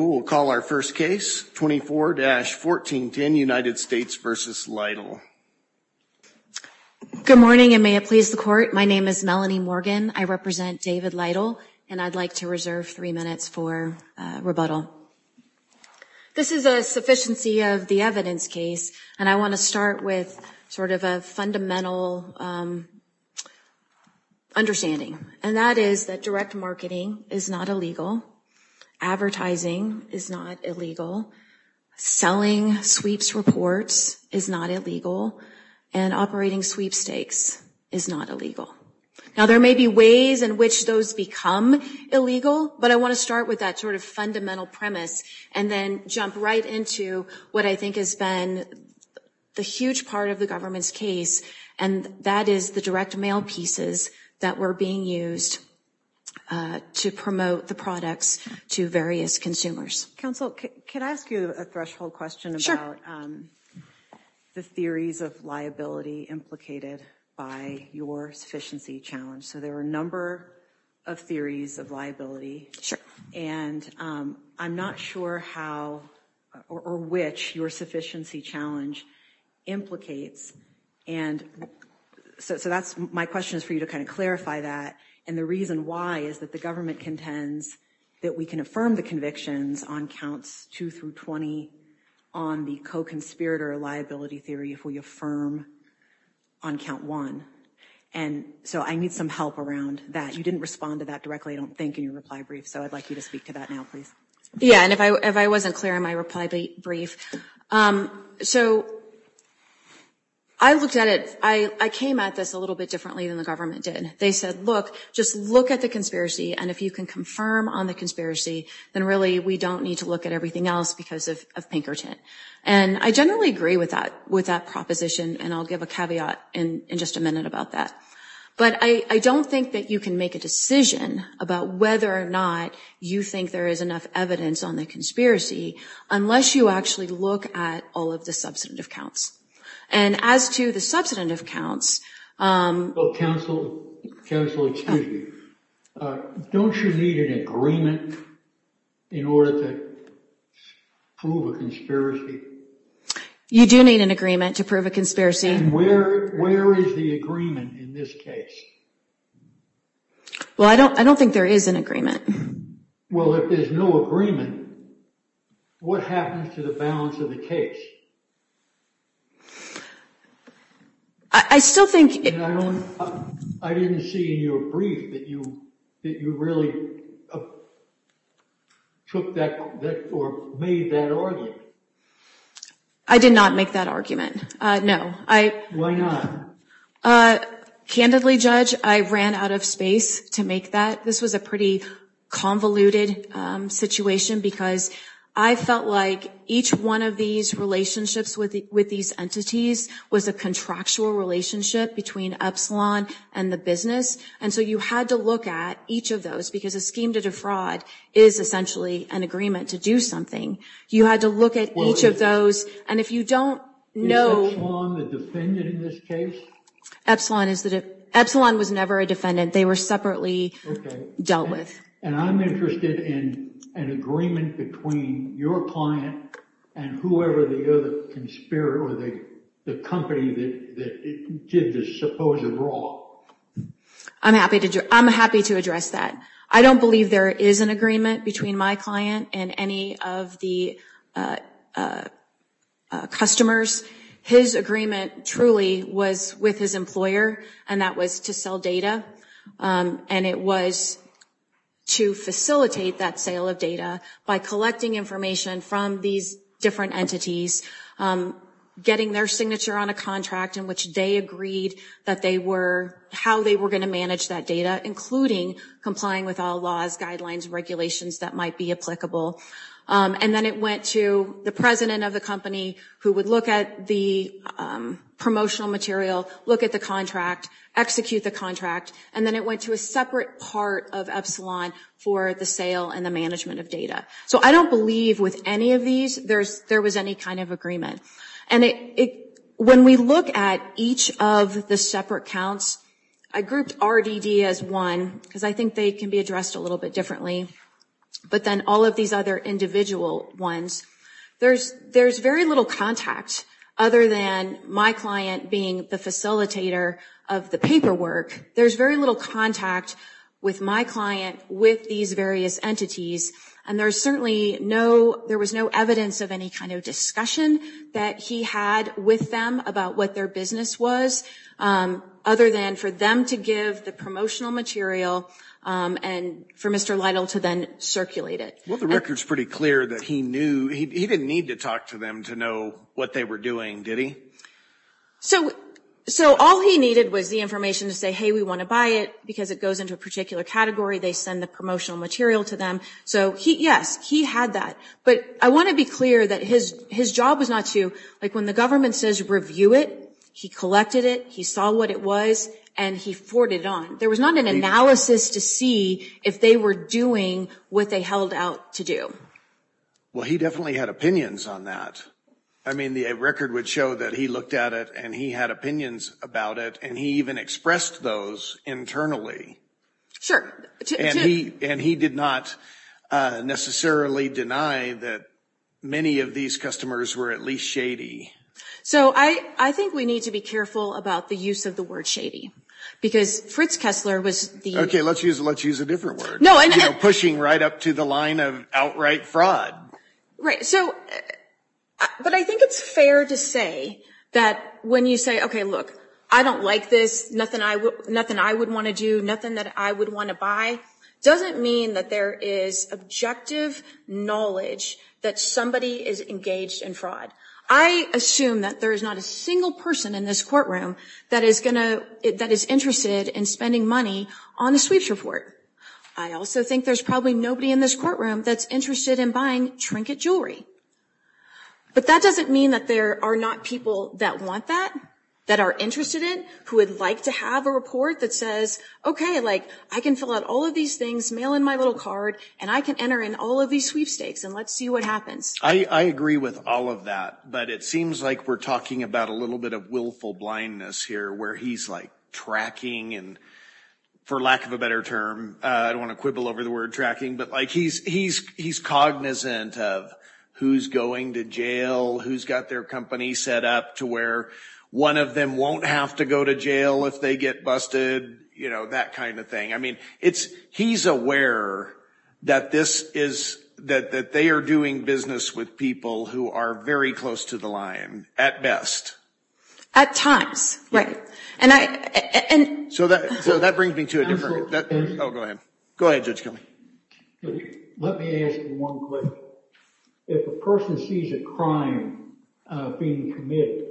Good morning and may it please the court my name is Melanie Morgan I represent David Lytle and I'd like to reserve three minutes for rebuttal. This is a sufficiency of the evidence case and I want to start with sort of a fundamental understanding and that is that direct marketing is not illegal. Advertising is not illegal. Selling sweeps reports is not illegal and operating sweepstakes is not illegal. Now there may be ways in which those become illegal but I want to start with that sort of fundamental premise and then jump right into what I think has been the huge part of the government's case and that is the direct mail pieces that were being used to promote the products to various consumers. Counsel can I ask you a threshold question about the theories of liability implicated by your sufficiency challenge. So there are a number of theories of liability and I'm not sure how or which your sufficiency challenge implicates and so that's my question is for you to kind of clarify that and the reason why is that the government contends that we can affirm the convictions on counts 2 through 20 on the co-conspirator liability theory if we affirm on count 1 and so I need some help around that. You didn't respond to that directly I don't think in your reply brief so I'd like you to speak to that Yeah and if I wasn't clear in my reply brief so I looked at it I came at this a little bit differently than the government did they said look just look at the conspiracy and if you can confirm on the conspiracy then really we don't need to look at everything else because of Pinkerton and I generally agree with that with that proposition and I'll give a caveat in just a minute about that but I don't think that you can make a decision about whether or not you think there is enough evidence on the conspiracy unless you actually look at all of the substantive counts and as to the substantive counts. Well counsel, counsel excuse me, don't you need an agreement in order to prove a conspiracy. You do need an agreement to prove a conspiracy. Where is the agreement in this case? Well I don't I don't think there is an agreement. Well if there's no agreement what happens to the balance of the case? I still think. I didn't see in your brief that you really took that or made that argument. I did not make that argument no. Why not? Candidly judge I ran out of space to make that this was a pretty convoluted situation because I felt like each one of these relationships with with these entities was a contractual relationship between Epsilon and the business and so you had to look at each of those because a scheme to defraud is essentially an agreement to You had to look at each of those and if you don't know. Is Epsilon the defendant in this case? Epsilon was never a defendant they were separately dealt with. And I'm interested in an agreement between your client and whoever the other conspirator or the company that did this supposed brawl. I'm happy to do. I'm happy to address that. I don't believe there is an agreement between my client and any of the customers. His agreement truly was with his employer and that was to sell data and it was to facilitate that sale of data by collecting information from these different entities getting their signature on a contract in which they agreed that they were how they were going to manage that data including complying with all laws guidelines regulations that might be applicable and then it went to the president of the company who would look at the promotional material look at the contract execute the contract and then it went to a separate part of Epsilon for the sale and the management of data. So I don't believe with any of these there's there was any kind of agreement and it when we look at each of the separate counts I grouped RDD as one because I think they can be addressed a little bit differently. But then all of these other individual ones there's there's very little contact other than my client being the facilitator of the paperwork. There's very little contact with my client with these various entities and there's certainly no there was no evidence of any kind of discussion that he had with them about what their business was other than for them to give the promotional material. And for Mr. Lytle to then circulate it. Well the records pretty clear that he knew he didn't need to talk to them to know what they were doing did he? So so all he needed was the information to say hey we want to buy it because it goes into a particular category they send the promotional material to them so he yes he had that. But I want to be clear that his his job was not to like when the government says review it he collected it he saw what it was and he forwarded it on. There was not an analysis to see if they were doing what they held out to do. Well he definitely had opinions on that. I mean the record would show that he looked at it and he had opinions about it and he even expressed those internally. Sure. And he and he did not necessarily deny that many of these customers were at least shady. So I I think we need to be careful about the use of the word shady because Fritz Kessler was. OK let's use let's use a different word. No I'm pushing right up to the line of outright fraud. Right. So but I think it's fair to say that when you say OK look I don't like this. Nothing I would nothing I would want to do nothing that I would want to buy doesn't mean that there is objective knowledge that somebody is engaged in fraud. I assume that there is not a single person in this courtroom that is going to that is interested in spending money on the sweeps report. I also think there's probably nobody in this courtroom that's interested in buying trinket jewelry. But that doesn't mean that there are not people that want that that are interested in who would like to have a report that says OK like I can fill out all of these things mail in my little card and I can enter in all of these sweepstakes and let's see what happens. I agree with all of that but it seems like we're talking about a little bit of willful blindness here where he's like tracking and for lack of a better term. I don't want to quibble over the word tracking but like he's he's he's cognizant of who's going to jail who's got their company set up to where one of them won't have to go to jail if they get busted. You know that kind of thing. I mean it's he's aware that this is that that they are doing business with people who are very close to the line at best at times. And I and so that so that brings me to it. Oh go ahead. Go ahead. Let me ask one question. If a person sees a crime being committed,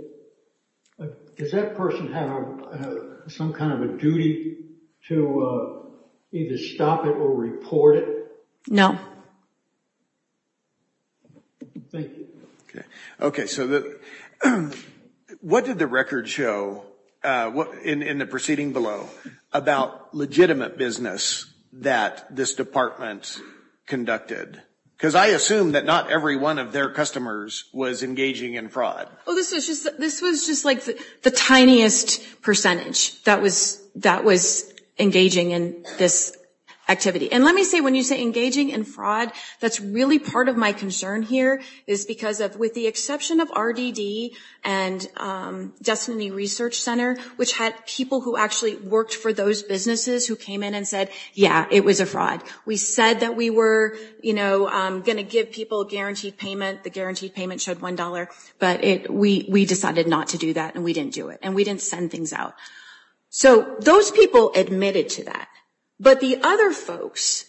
does that person have some kind of a duty to either stop it or report it? No. Thank you. Okay. So what did the record show in the proceeding below about legitimate business that this department conducted? Because I assume that not every one of their customers was engaging in fraud. This was just like the tiniest percentage that was that was engaging in this activity. And let me say when you say engaging in fraud, that's really part of my concern here is because of with the exception of RDD and Destiny Research Center, which had people who actually worked for those businesses who came in and said, yeah, it was a fraud. We said that we were, you know, going to give people a guaranteed payment. The guaranteed payment showed one dollar. But we decided not to do that and we didn't do it and we didn't send things out. So those people admitted to that. But the other folks,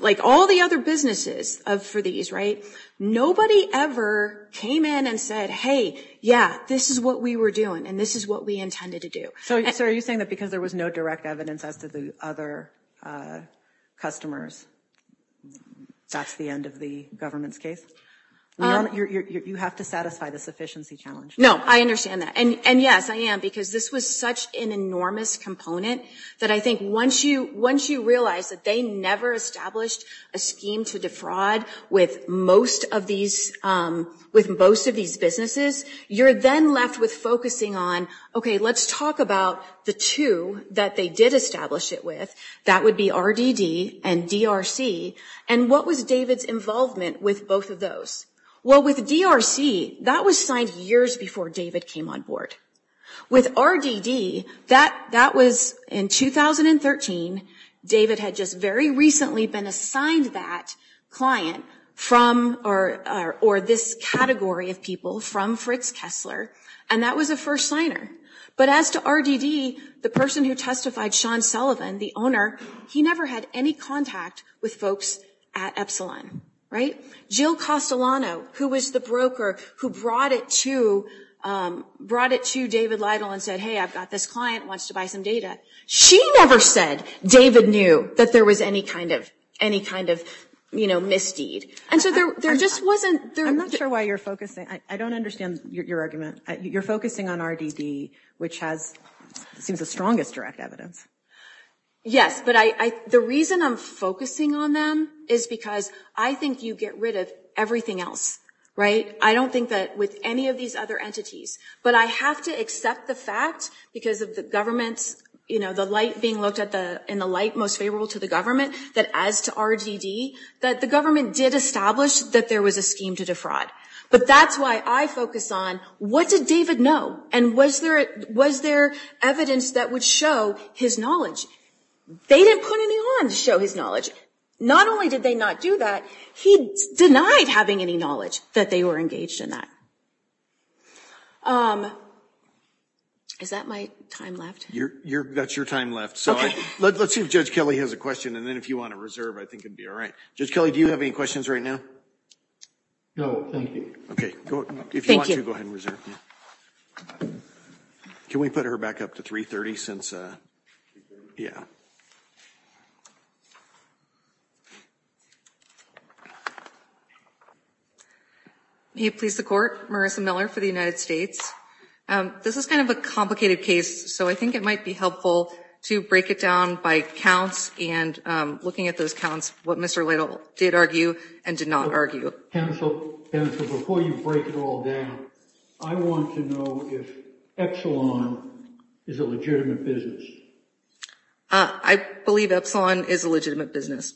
like all the other businesses for these, right, nobody ever came in and said, hey, yeah, this is what we were doing and this is what we intended to do. So are you saying that because there was no direct evidence as to the other customers, that's the end of the government's case? You have to satisfy the sufficiency challenge. No, I understand that. And yes, I am, because this was such an enormous component that I think once you realize that they never established a scheme to defraud with most of these, with most of these businesses, you're then left with focusing on, OK, let's talk about the two that they did establish it with. That would be RDD and DRC. And what was David's involvement with both of those? Well, with DRC, that was signed years before David came on board. With RDD, that was in 2013. David had just very recently been assigned that client from or this category of people from Fritz Kessler. And that was a first signer. But as to RDD, the person who testified, Sean Sullivan, the owner, he never had any contact with folks at Epsilon. Jill Castellano, who was the broker who brought it to David Lytle and said, hey, I've got this client, wants to buy some data. She never said David knew that there was any kind of misdeed. And so there just wasn't. I'm not sure why you're focusing. I don't understand your argument. You're focusing on RDD, which seems the strongest direct evidence. Yes, but the reason I'm focusing on them is because I think you get rid of everything else, right? I don't think that with any of these other entities. But I have to accept the fact because of the government's, you know, the light being looked at in the light most favorable to the government, that as to RDD, that the government did establish that there was a scheme to defraud. But that's why I focus on what did David know? And was there evidence that would show his knowledge? They didn't put any on to show his knowledge. Not only did they not do that, he denied having any knowledge that they were engaged in that. Is that my time left? That's your time left. So let's see if Judge Kelly has a question, and then if you want to reserve, I think it would be all right. Judge Kelly, do you have any questions right now? No, thank you. Okay. If you want to, go ahead and reserve. Can we put her back up to 330 since? Yeah. May it please the Court, Marissa Miller for the United States. This is kind of a complicated case, so I think it might be helpful to break it down by counts and looking at those counts, what Mr. Lytle did argue and did not argue. Counsel, counsel, before you break it all down, I want to know if Epsilon is a legitimate business. I believe Epsilon is a legitimate business.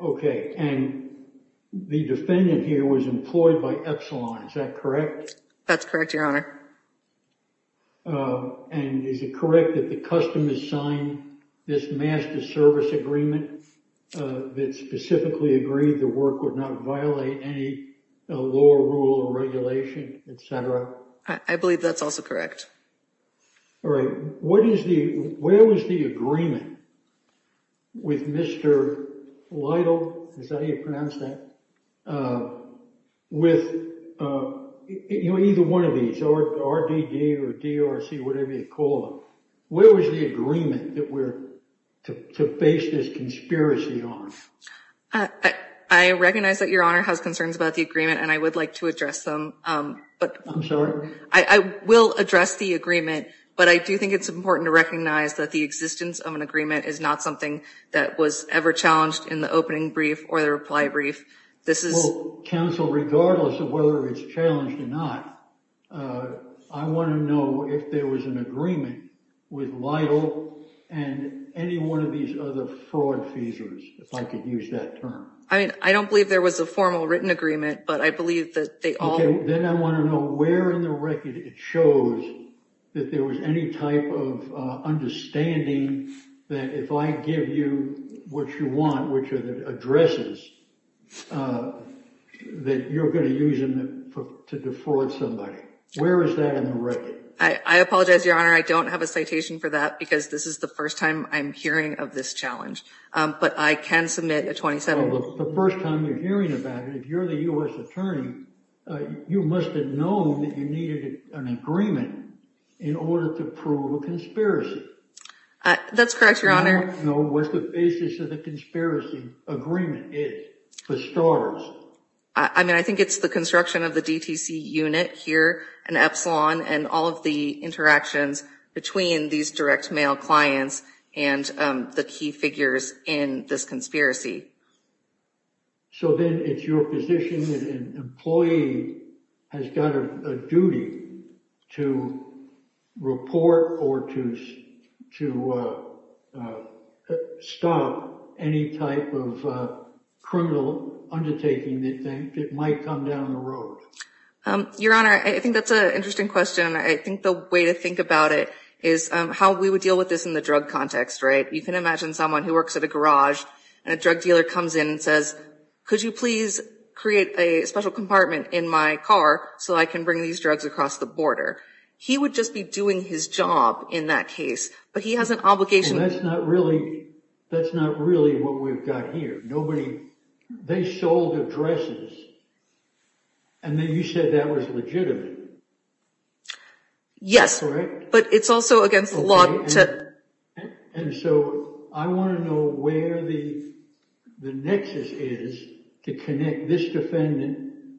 Okay. And the defendant here was employed by Epsilon. Is that correct? That's correct, Your Honor. And is it correct that the customers signed this master service agreement that specifically agreed the work would not violate any lower rule or regulation, et cetera? I believe that's also correct. All right. What is the where was the agreement with Mr. Lytle? Is that how you pronounce that? With either one of these, RDD or DRC, whatever you call them, where was the agreement that we're to face this conspiracy on? I recognize that Your Honor has concerns about the agreement, and I would like to address them. I'm sorry? I will address the agreement, but I do think it's important to recognize that the existence of an agreement is not something that was ever challenged in the opening brief or the reply brief. This is counsel, regardless of whether it's challenged or not. I want to know if there was an agreement with Lytle and any one of these other fraud feasors, if I could use that term. I mean, I don't believe there was a formal written agreement, but I believe that they all. Then I want to know where in the record it shows that there was any type of understanding that if I give you what you want, which are the addresses that you're going to use to defraud somebody. Where is that in the record? I apologize, Your Honor. I don't have a citation for that because this is the first time I'm hearing of this challenge, but I can submit a 27. The first time you're hearing about it, if you're the U.S. attorney, you must have known that you needed an agreement in order to prove a conspiracy. That's correct, Your Honor. I want to know what the basis of the conspiracy agreement is, for starters. I mean, I think it's the construction of the DTC unit here in Epsilon and all of the interactions between these direct mail clients and the key figures in this conspiracy. So then it's your position that an employee has got a duty to report or to stop any type of criminal undertaking that might come down the road. Your Honor, I think that's an interesting question. I think the way to think about it is how we would deal with this in the drug context, right? You can imagine someone who works at a garage and a drug dealer comes in and says, could you please create a special compartment in my car so I can bring these drugs across the border? He would just be doing his job in that case, but he has an obligation. And that's not really what we've got here. They sold addresses, and then you said that was legitimate. Yes. That's correct. But it's also against the law to… And so I want to know where the nexus is to connect this defendant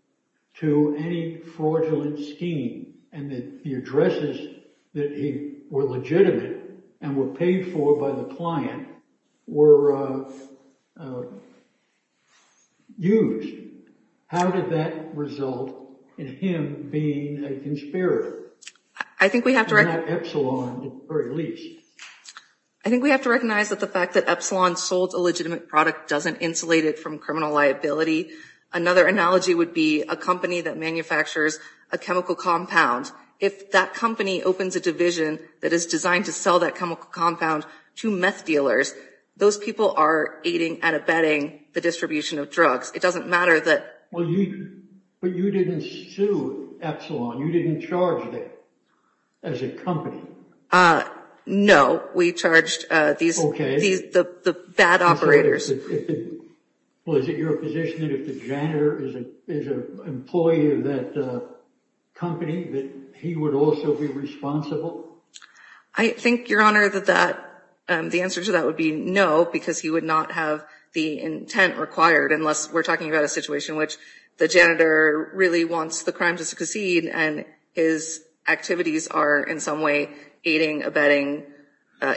to any fraudulent scheme and the addresses that were legitimate and were paid for by the client were used. How did that result in him being a conspirator? I think we have to recognize that the fact that Epsilon sold a legitimate product doesn't insulate it from criminal liability. Another analogy would be a company that manufactures a chemical compound. If that company opens a division that is designed to sell that chemical compound to meth dealers, those people are aiding and abetting the distribution of drugs. It doesn't matter that… But you didn't sue Epsilon. You didn't charge them as a company. We charged the bad operators. Was it your position that if the janitor is an employee of that company that he would also be responsible? I think, Your Honor, that the answer to that would be no, because he would not have the intent required unless we're talking about a situation in which the janitor really wants the crime to succeed and his activities are in some way aiding, abetting,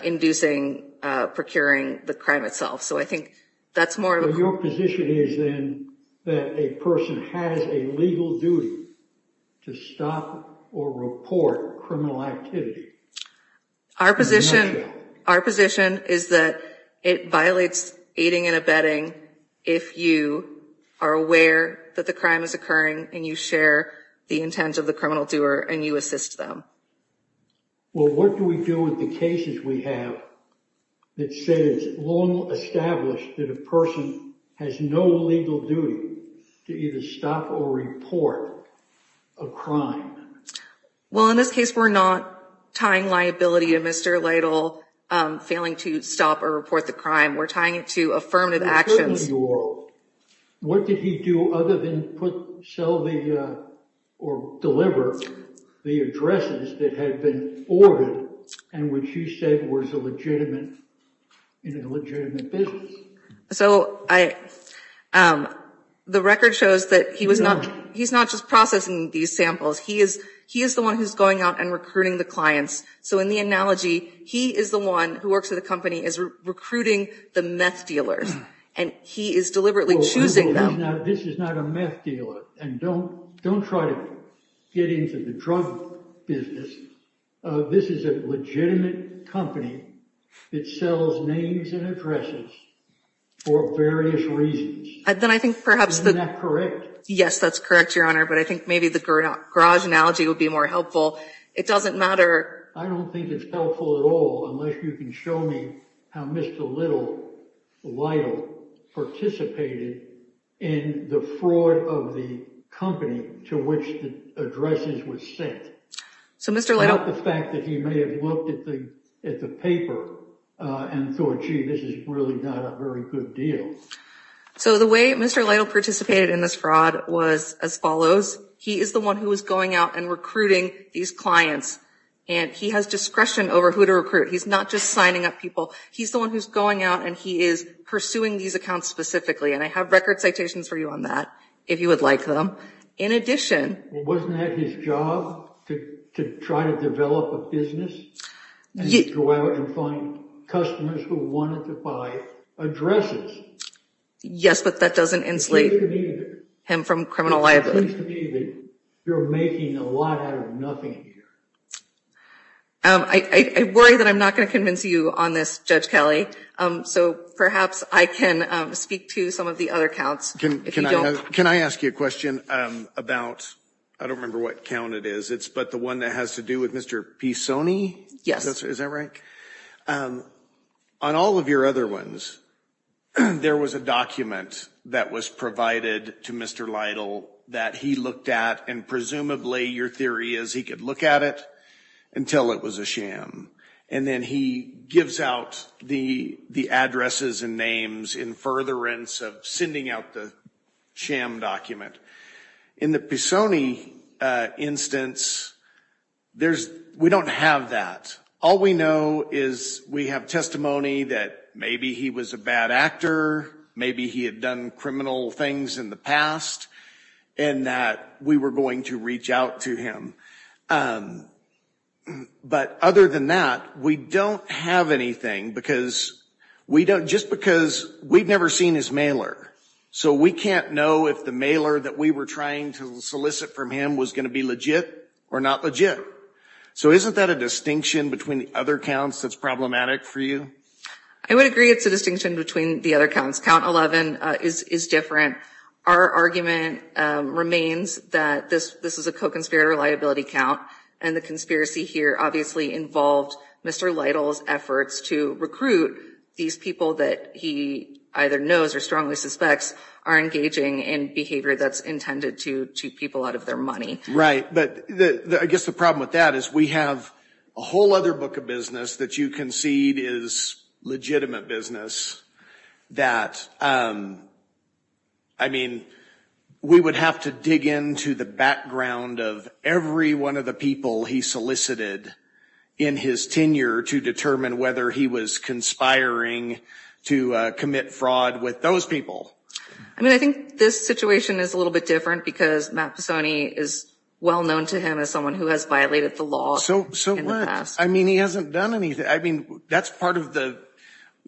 inducing, procuring the crime itself. Your position is then that a person has a legal duty to stop or report criminal activity. Our position is that it violates aiding and abetting if you are aware that the crime is occurring and you share the intent of the criminal doer and you assist them. Well, what do we do with the cases we have that say it's long established that a person has no legal duty to either stop or report a crime? Well, in this case, we're not tying liability to Mr. Lytle failing to stop or report the crime. We're tying it to affirmative actions. What did he do other than put, sell or deliver the addresses that had been ordered and which he said was a legitimate business? So the record shows that he's not just processing these samples. He is the one who's going out and recruiting the clients. So in the analogy, he is the one who works at the company is recruiting the meth dealers and he is deliberately choosing them. Now, this is not a meth dealer and don't try to get into the drug business. This is a legitimate company that sells names and addresses for various reasons. Isn't that correct? Yes, that's correct, Your Honor, but I think maybe the garage analogy would be more helpful. It doesn't matter. I don't think it's helpful at all unless you can show me how Mr. Lytle participated in the fraud of the company to which the addresses were sent. So Mr. Lytle. Without the fact that he may have looked at the paper and thought, gee, this is really not a very good deal. So the way Mr. Lytle participated in this fraud was as follows. He is the one who is going out and recruiting these clients and he has discretion over who to recruit. He's not just signing up people. He's the one who's going out and he is pursuing these accounts specifically. And I have record citations for you on that if you would like them. In addition. Wasn't that his job to try to develop a business and go out and find customers who wanted to buy addresses? Yes, but that doesn't enslave him from criminal liability. You're making a lot out of nothing. I worry that I'm not going to convince you on this, Judge Kelly. So perhaps I can speak to some of the other counts. Can I ask you a question about I don't remember what count it is. It's but the one that has to do with Mr. P. Sony. Yes. Is that right? On all of your other ones, there was a document that was provided to Mr. Lytle that he looked at and presumably your theory is he could look at it until it was a sham. And then he gives out the the addresses and names in furtherance of sending out the sham document in the P. Sony instance. There's we don't have that. All we know is we have testimony that maybe he was a bad actor. Maybe he had done criminal things in the past and that we were going to reach out to him. But other than that, we don't have anything because we don't just because we've never seen his mailer. So we can't know if the mailer that we were trying to solicit from him was going to be legit or not legit. So isn't that a distinction between the other counts that's problematic for you? I would agree. It's a distinction between the other counts. Count 11 is different. Our argument remains that this this is a co-conspirator liability count. And the conspiracy here obviously involved Mr. Lytle's efforts to recruit these people that he either knows or strongly suspects are engaging in behavior that's intended to to people out of their money. Right. But I guess the problem with that is we have a whole other book of business that you concede is legitimate business that. I mean, we would have to dig into the background of every one of the people he solicited in his tenure to determine whether he was conspiring to commit fraud with those people. I mean, I think this situation is a little bit different because Matt Pisoni is well known to him as someone who has violated the law. So. So I mean, he hasn't done anything. I mean, that's part of the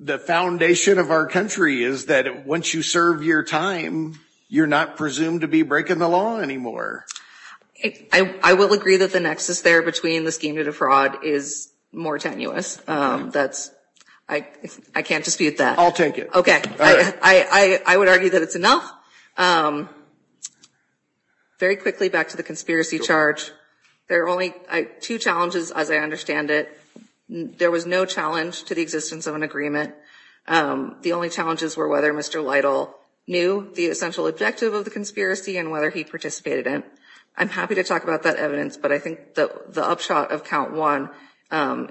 the foundation of our country is that once you serve your time, you're not presumed to be breaking the law anymore. I will agree that the nexus there between the scheme to defraud is more tenuous. That's I can't dispute that. I'll take it. OK, I would argue that it's enough. Very quickly, back to the conspiracy charge. There are only two challenges, as I understand it. There was no challenge to the existence of an agreement. The only challenges were whether Mr. Lytle knew the essential objective of the conspiracy and whether he participated in. I'm happy to talk about that evidence, but I think that the upshot of count one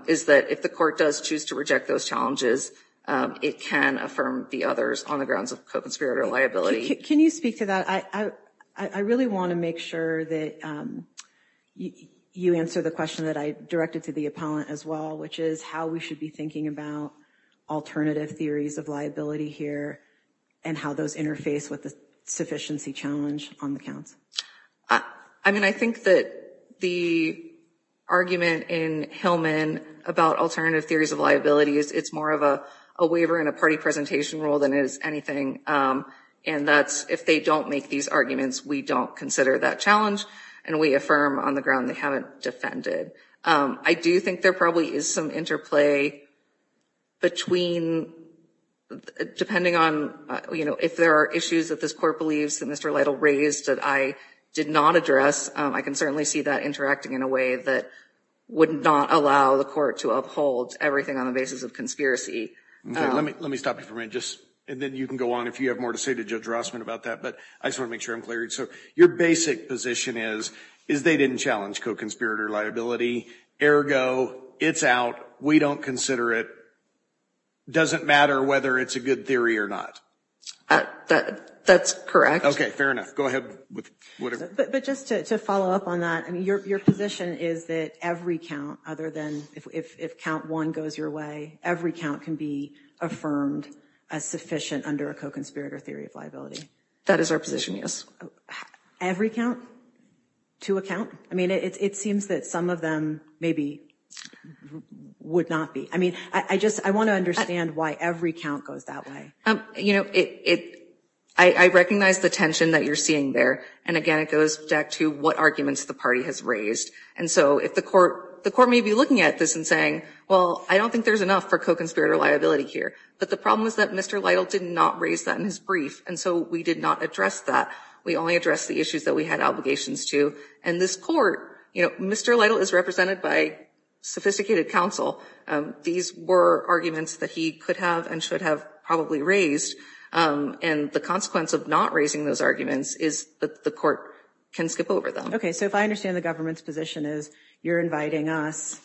is that if the court does choose to reject those challenges, it can affirm the others on the grounds of conspirator liability. Can you speak to that? I really want to make sure that you answer the question that I directed to the appellant as well, which is how we should be thinking about alternative theories of liability here and how those interface with the sufficiency challenge on the counts. I mean, I think that the argument in Hillman about alternative theories of liability is it's more of a waiver in a party presentation role than is anything. And that's if they don't make these arguments, we don't consider that challenge and we affirm on the ground they haven't defended. I do think there probably is some interplay between depending on if there are issues that this court believes that Mr. Lytle raised that I did not address. I can certainly see that interacting in a way that would not allow the court to uphold everything on the basis of conspiracy. Let me stop you for a minute. And then you can go on if you have more to say to Judge Rossman about that. But I just want to make sure I'm clear. So your basic position is, is they didn't challenge co-conspirator liability. Ergo, it's out. We don't consider it. Doesn't matter whether it's a good theory or not. That's correct. OK, fair enough. Go ahead. But just to follow up on that, I mean, your position is that every count other than if count one goes your way, every count can be affirmed as sufficient under a co-conspirator theory of liability. That is our position, yes. Every count to a count? I mean, it seems that some of them maybe would not be. I mean, I just I want to understand why every count goes that way. You know, it I recognize the tension that you're seeing there. And again, it goes back to what arguments the party has raised. And so if the court the court may be looking at this and saying, well, I don't think there's enough for co-conspirator liability here. But the problem is that Mr. Lytle did not raise that in his brief. And so we did not address that. We only address the issues that we had obligations to. And this court, you know, Mr. Lytle is represented by sophisticated counsel. These were arguments that he could have and should have probably raised. And the consequence of not raising those arguments is that the court can skip over them. OK, so if I understand the government's position is you're inviting us,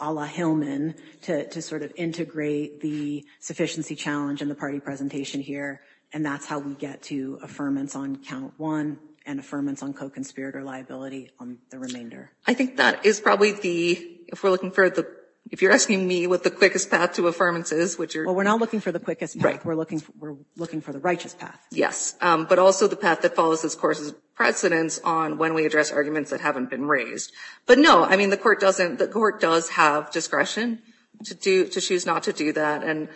a la Hillman, to sort of integrate the sufficiency challenge and the party presentation here. And that's how we get to affirmance on count one and affirmance on co-conspirator liability on the remainder. I think that is probably the if we're looking for the if you're asking me what the quickest path to affirmance is, which we're not looking for the quickest break. We're looking we're looking for the righteous path. Yes. But also the path that follows this course is precedence on when we address arguments that haven't been raised. But no, I mean, the court doesn't the court does have discretion to do to choose not to do that. And,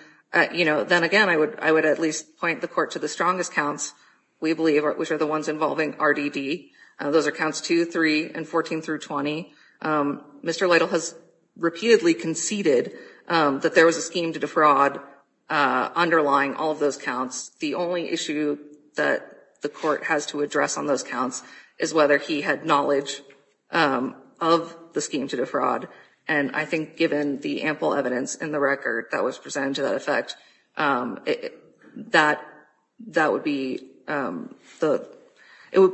you know, then again, I would I would at least point the court to the strongest counts, we believe, which are the ones involving RDD. Those are counts two, three and 14 through 20. Mr. Lytle has repeatedly conceded that there was a scheme to defraud underlying all of those counts. The only issue that the court has to address on those counts is whether he had knowledge of the scheme to defraud. And I think given the ample evidence in the record that was presented to that effect, that that would be the it would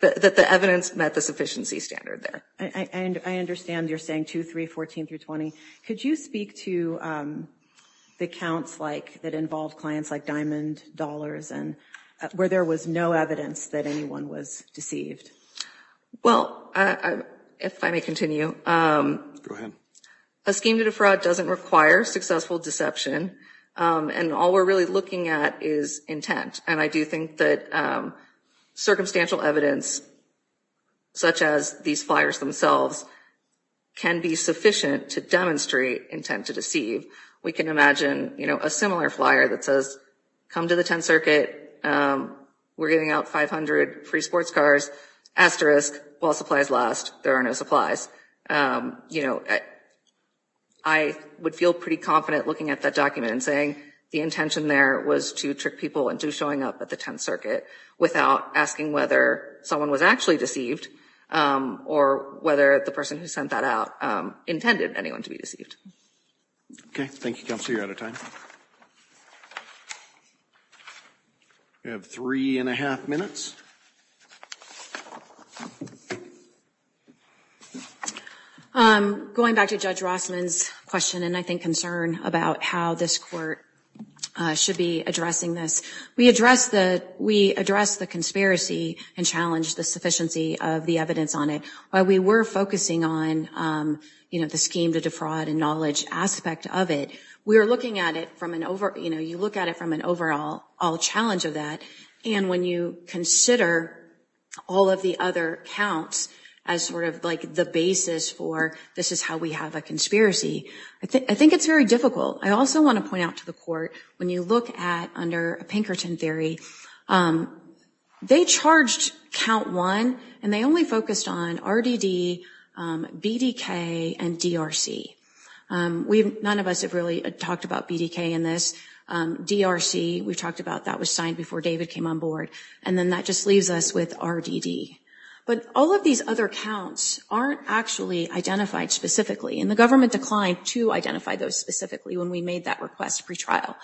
that the evidence met the sufficiency standard there. And I understand you're saying two, three, 14 through 20. Could you speak to the counts like that involved clients like Diamond Dollars and where there was no evidence that anyone was deceived? Well, if I may continue. Go ahead. A scheme to defraud doesn't require successful deception. And all we're really looking at is intent. And I do think that circumstantial evidence. Such as these flyers themselves can be sufficient to demonstrate intent to deceive. We can imagine, you know, a similar flyer that says come to the 10th Circuit. We're getting out 500 free sports cars. Asterisk. While supplies last, there are no supplies. You know, I would feel pretty confident looking at that document and saying the intention there was to trick people into showing up at the 10th Circuit without asking whether someone was actually deceived or whether the person who sent that out intended anyone to be deceived. Okay. Thank you, Counselor. You're out of time. We have three and a half minutes. Going back to Judge Rossman's question and I think concern about how this court should be addressing this. We address the conspiracy and challenge the sufficiency of the evidence on it. While we were focusing on, you know, the scheme to defraud and knowledge aspect of it, we were looking at it from an over, you know, you look at it from an overall challenge of that. And when you consider all of the other counts as sort of like the basis for this is how we have a conspiracy, I think it's very difficult. I also want to point out to the court when you look at under Pinkerton theory, they charged count one and they only focused on RDD, BDK, and DRC. None of us have really talked about BDK in this. DRC, we talked about that was signed before David came on board. And then that just leaves us with RDD. But all of these other counts aren't actually identified specifically. And the government declined to identify those specifically when we made that request pretrial.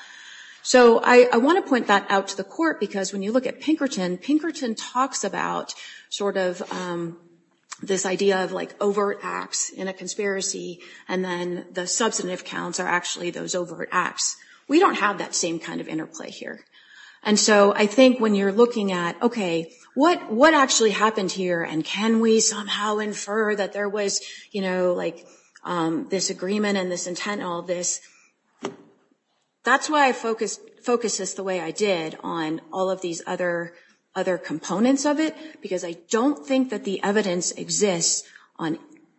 So I want to point that out to the court because when you look at Pinkerton, Pinkerton talks about sort of this idea of like overt acts in a conspiracy. And then the substantive counts are actually those overt acts. We don't have that same kind of interplay here. And so I think when you're looking at, okay, what actually happened here? And can we somehow infer that there was, you know, like this agreement and this intent and all this? That's why I focus this the way I did on all of these other components of it, because I don't think that the evidence exists on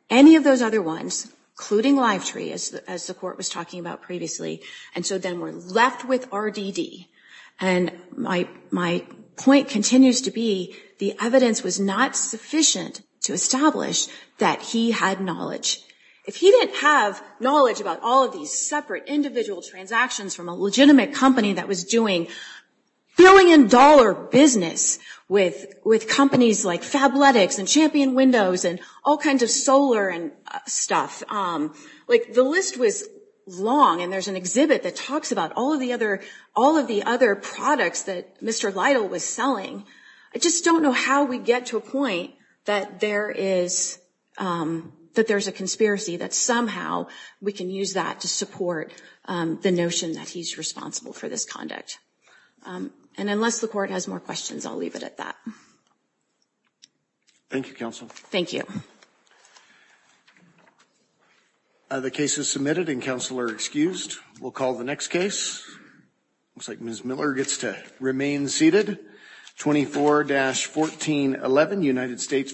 any of those other ones, including Lifetree, as the court was talking about previously. And so then we're left with RDD. And my point continues to be the evidence was not sufficient to establish that he had knowledge. If he didn't have knowledge about all of these separate individual transactions from a legitimate company that was doing billion-dollar business with companies like Fabletics and Champion Windows and all kinds of solar and stuff, like the list was long. And there's an exhibit that talks about all of the other all of the other products that Mr. Lytle was selling. I just don't know how we get to a point that there is that there's a conspiracy, that somehow we can use that to support the notion that he's responsible for this conduct. And unless the court has more questions, I'll leave it at that. Thank you, counsel. Thank you. The case is submitted and counsel are excused. We'll call the next case. Looks like Ms. Miller gets to remain seated. 24-1411 United States.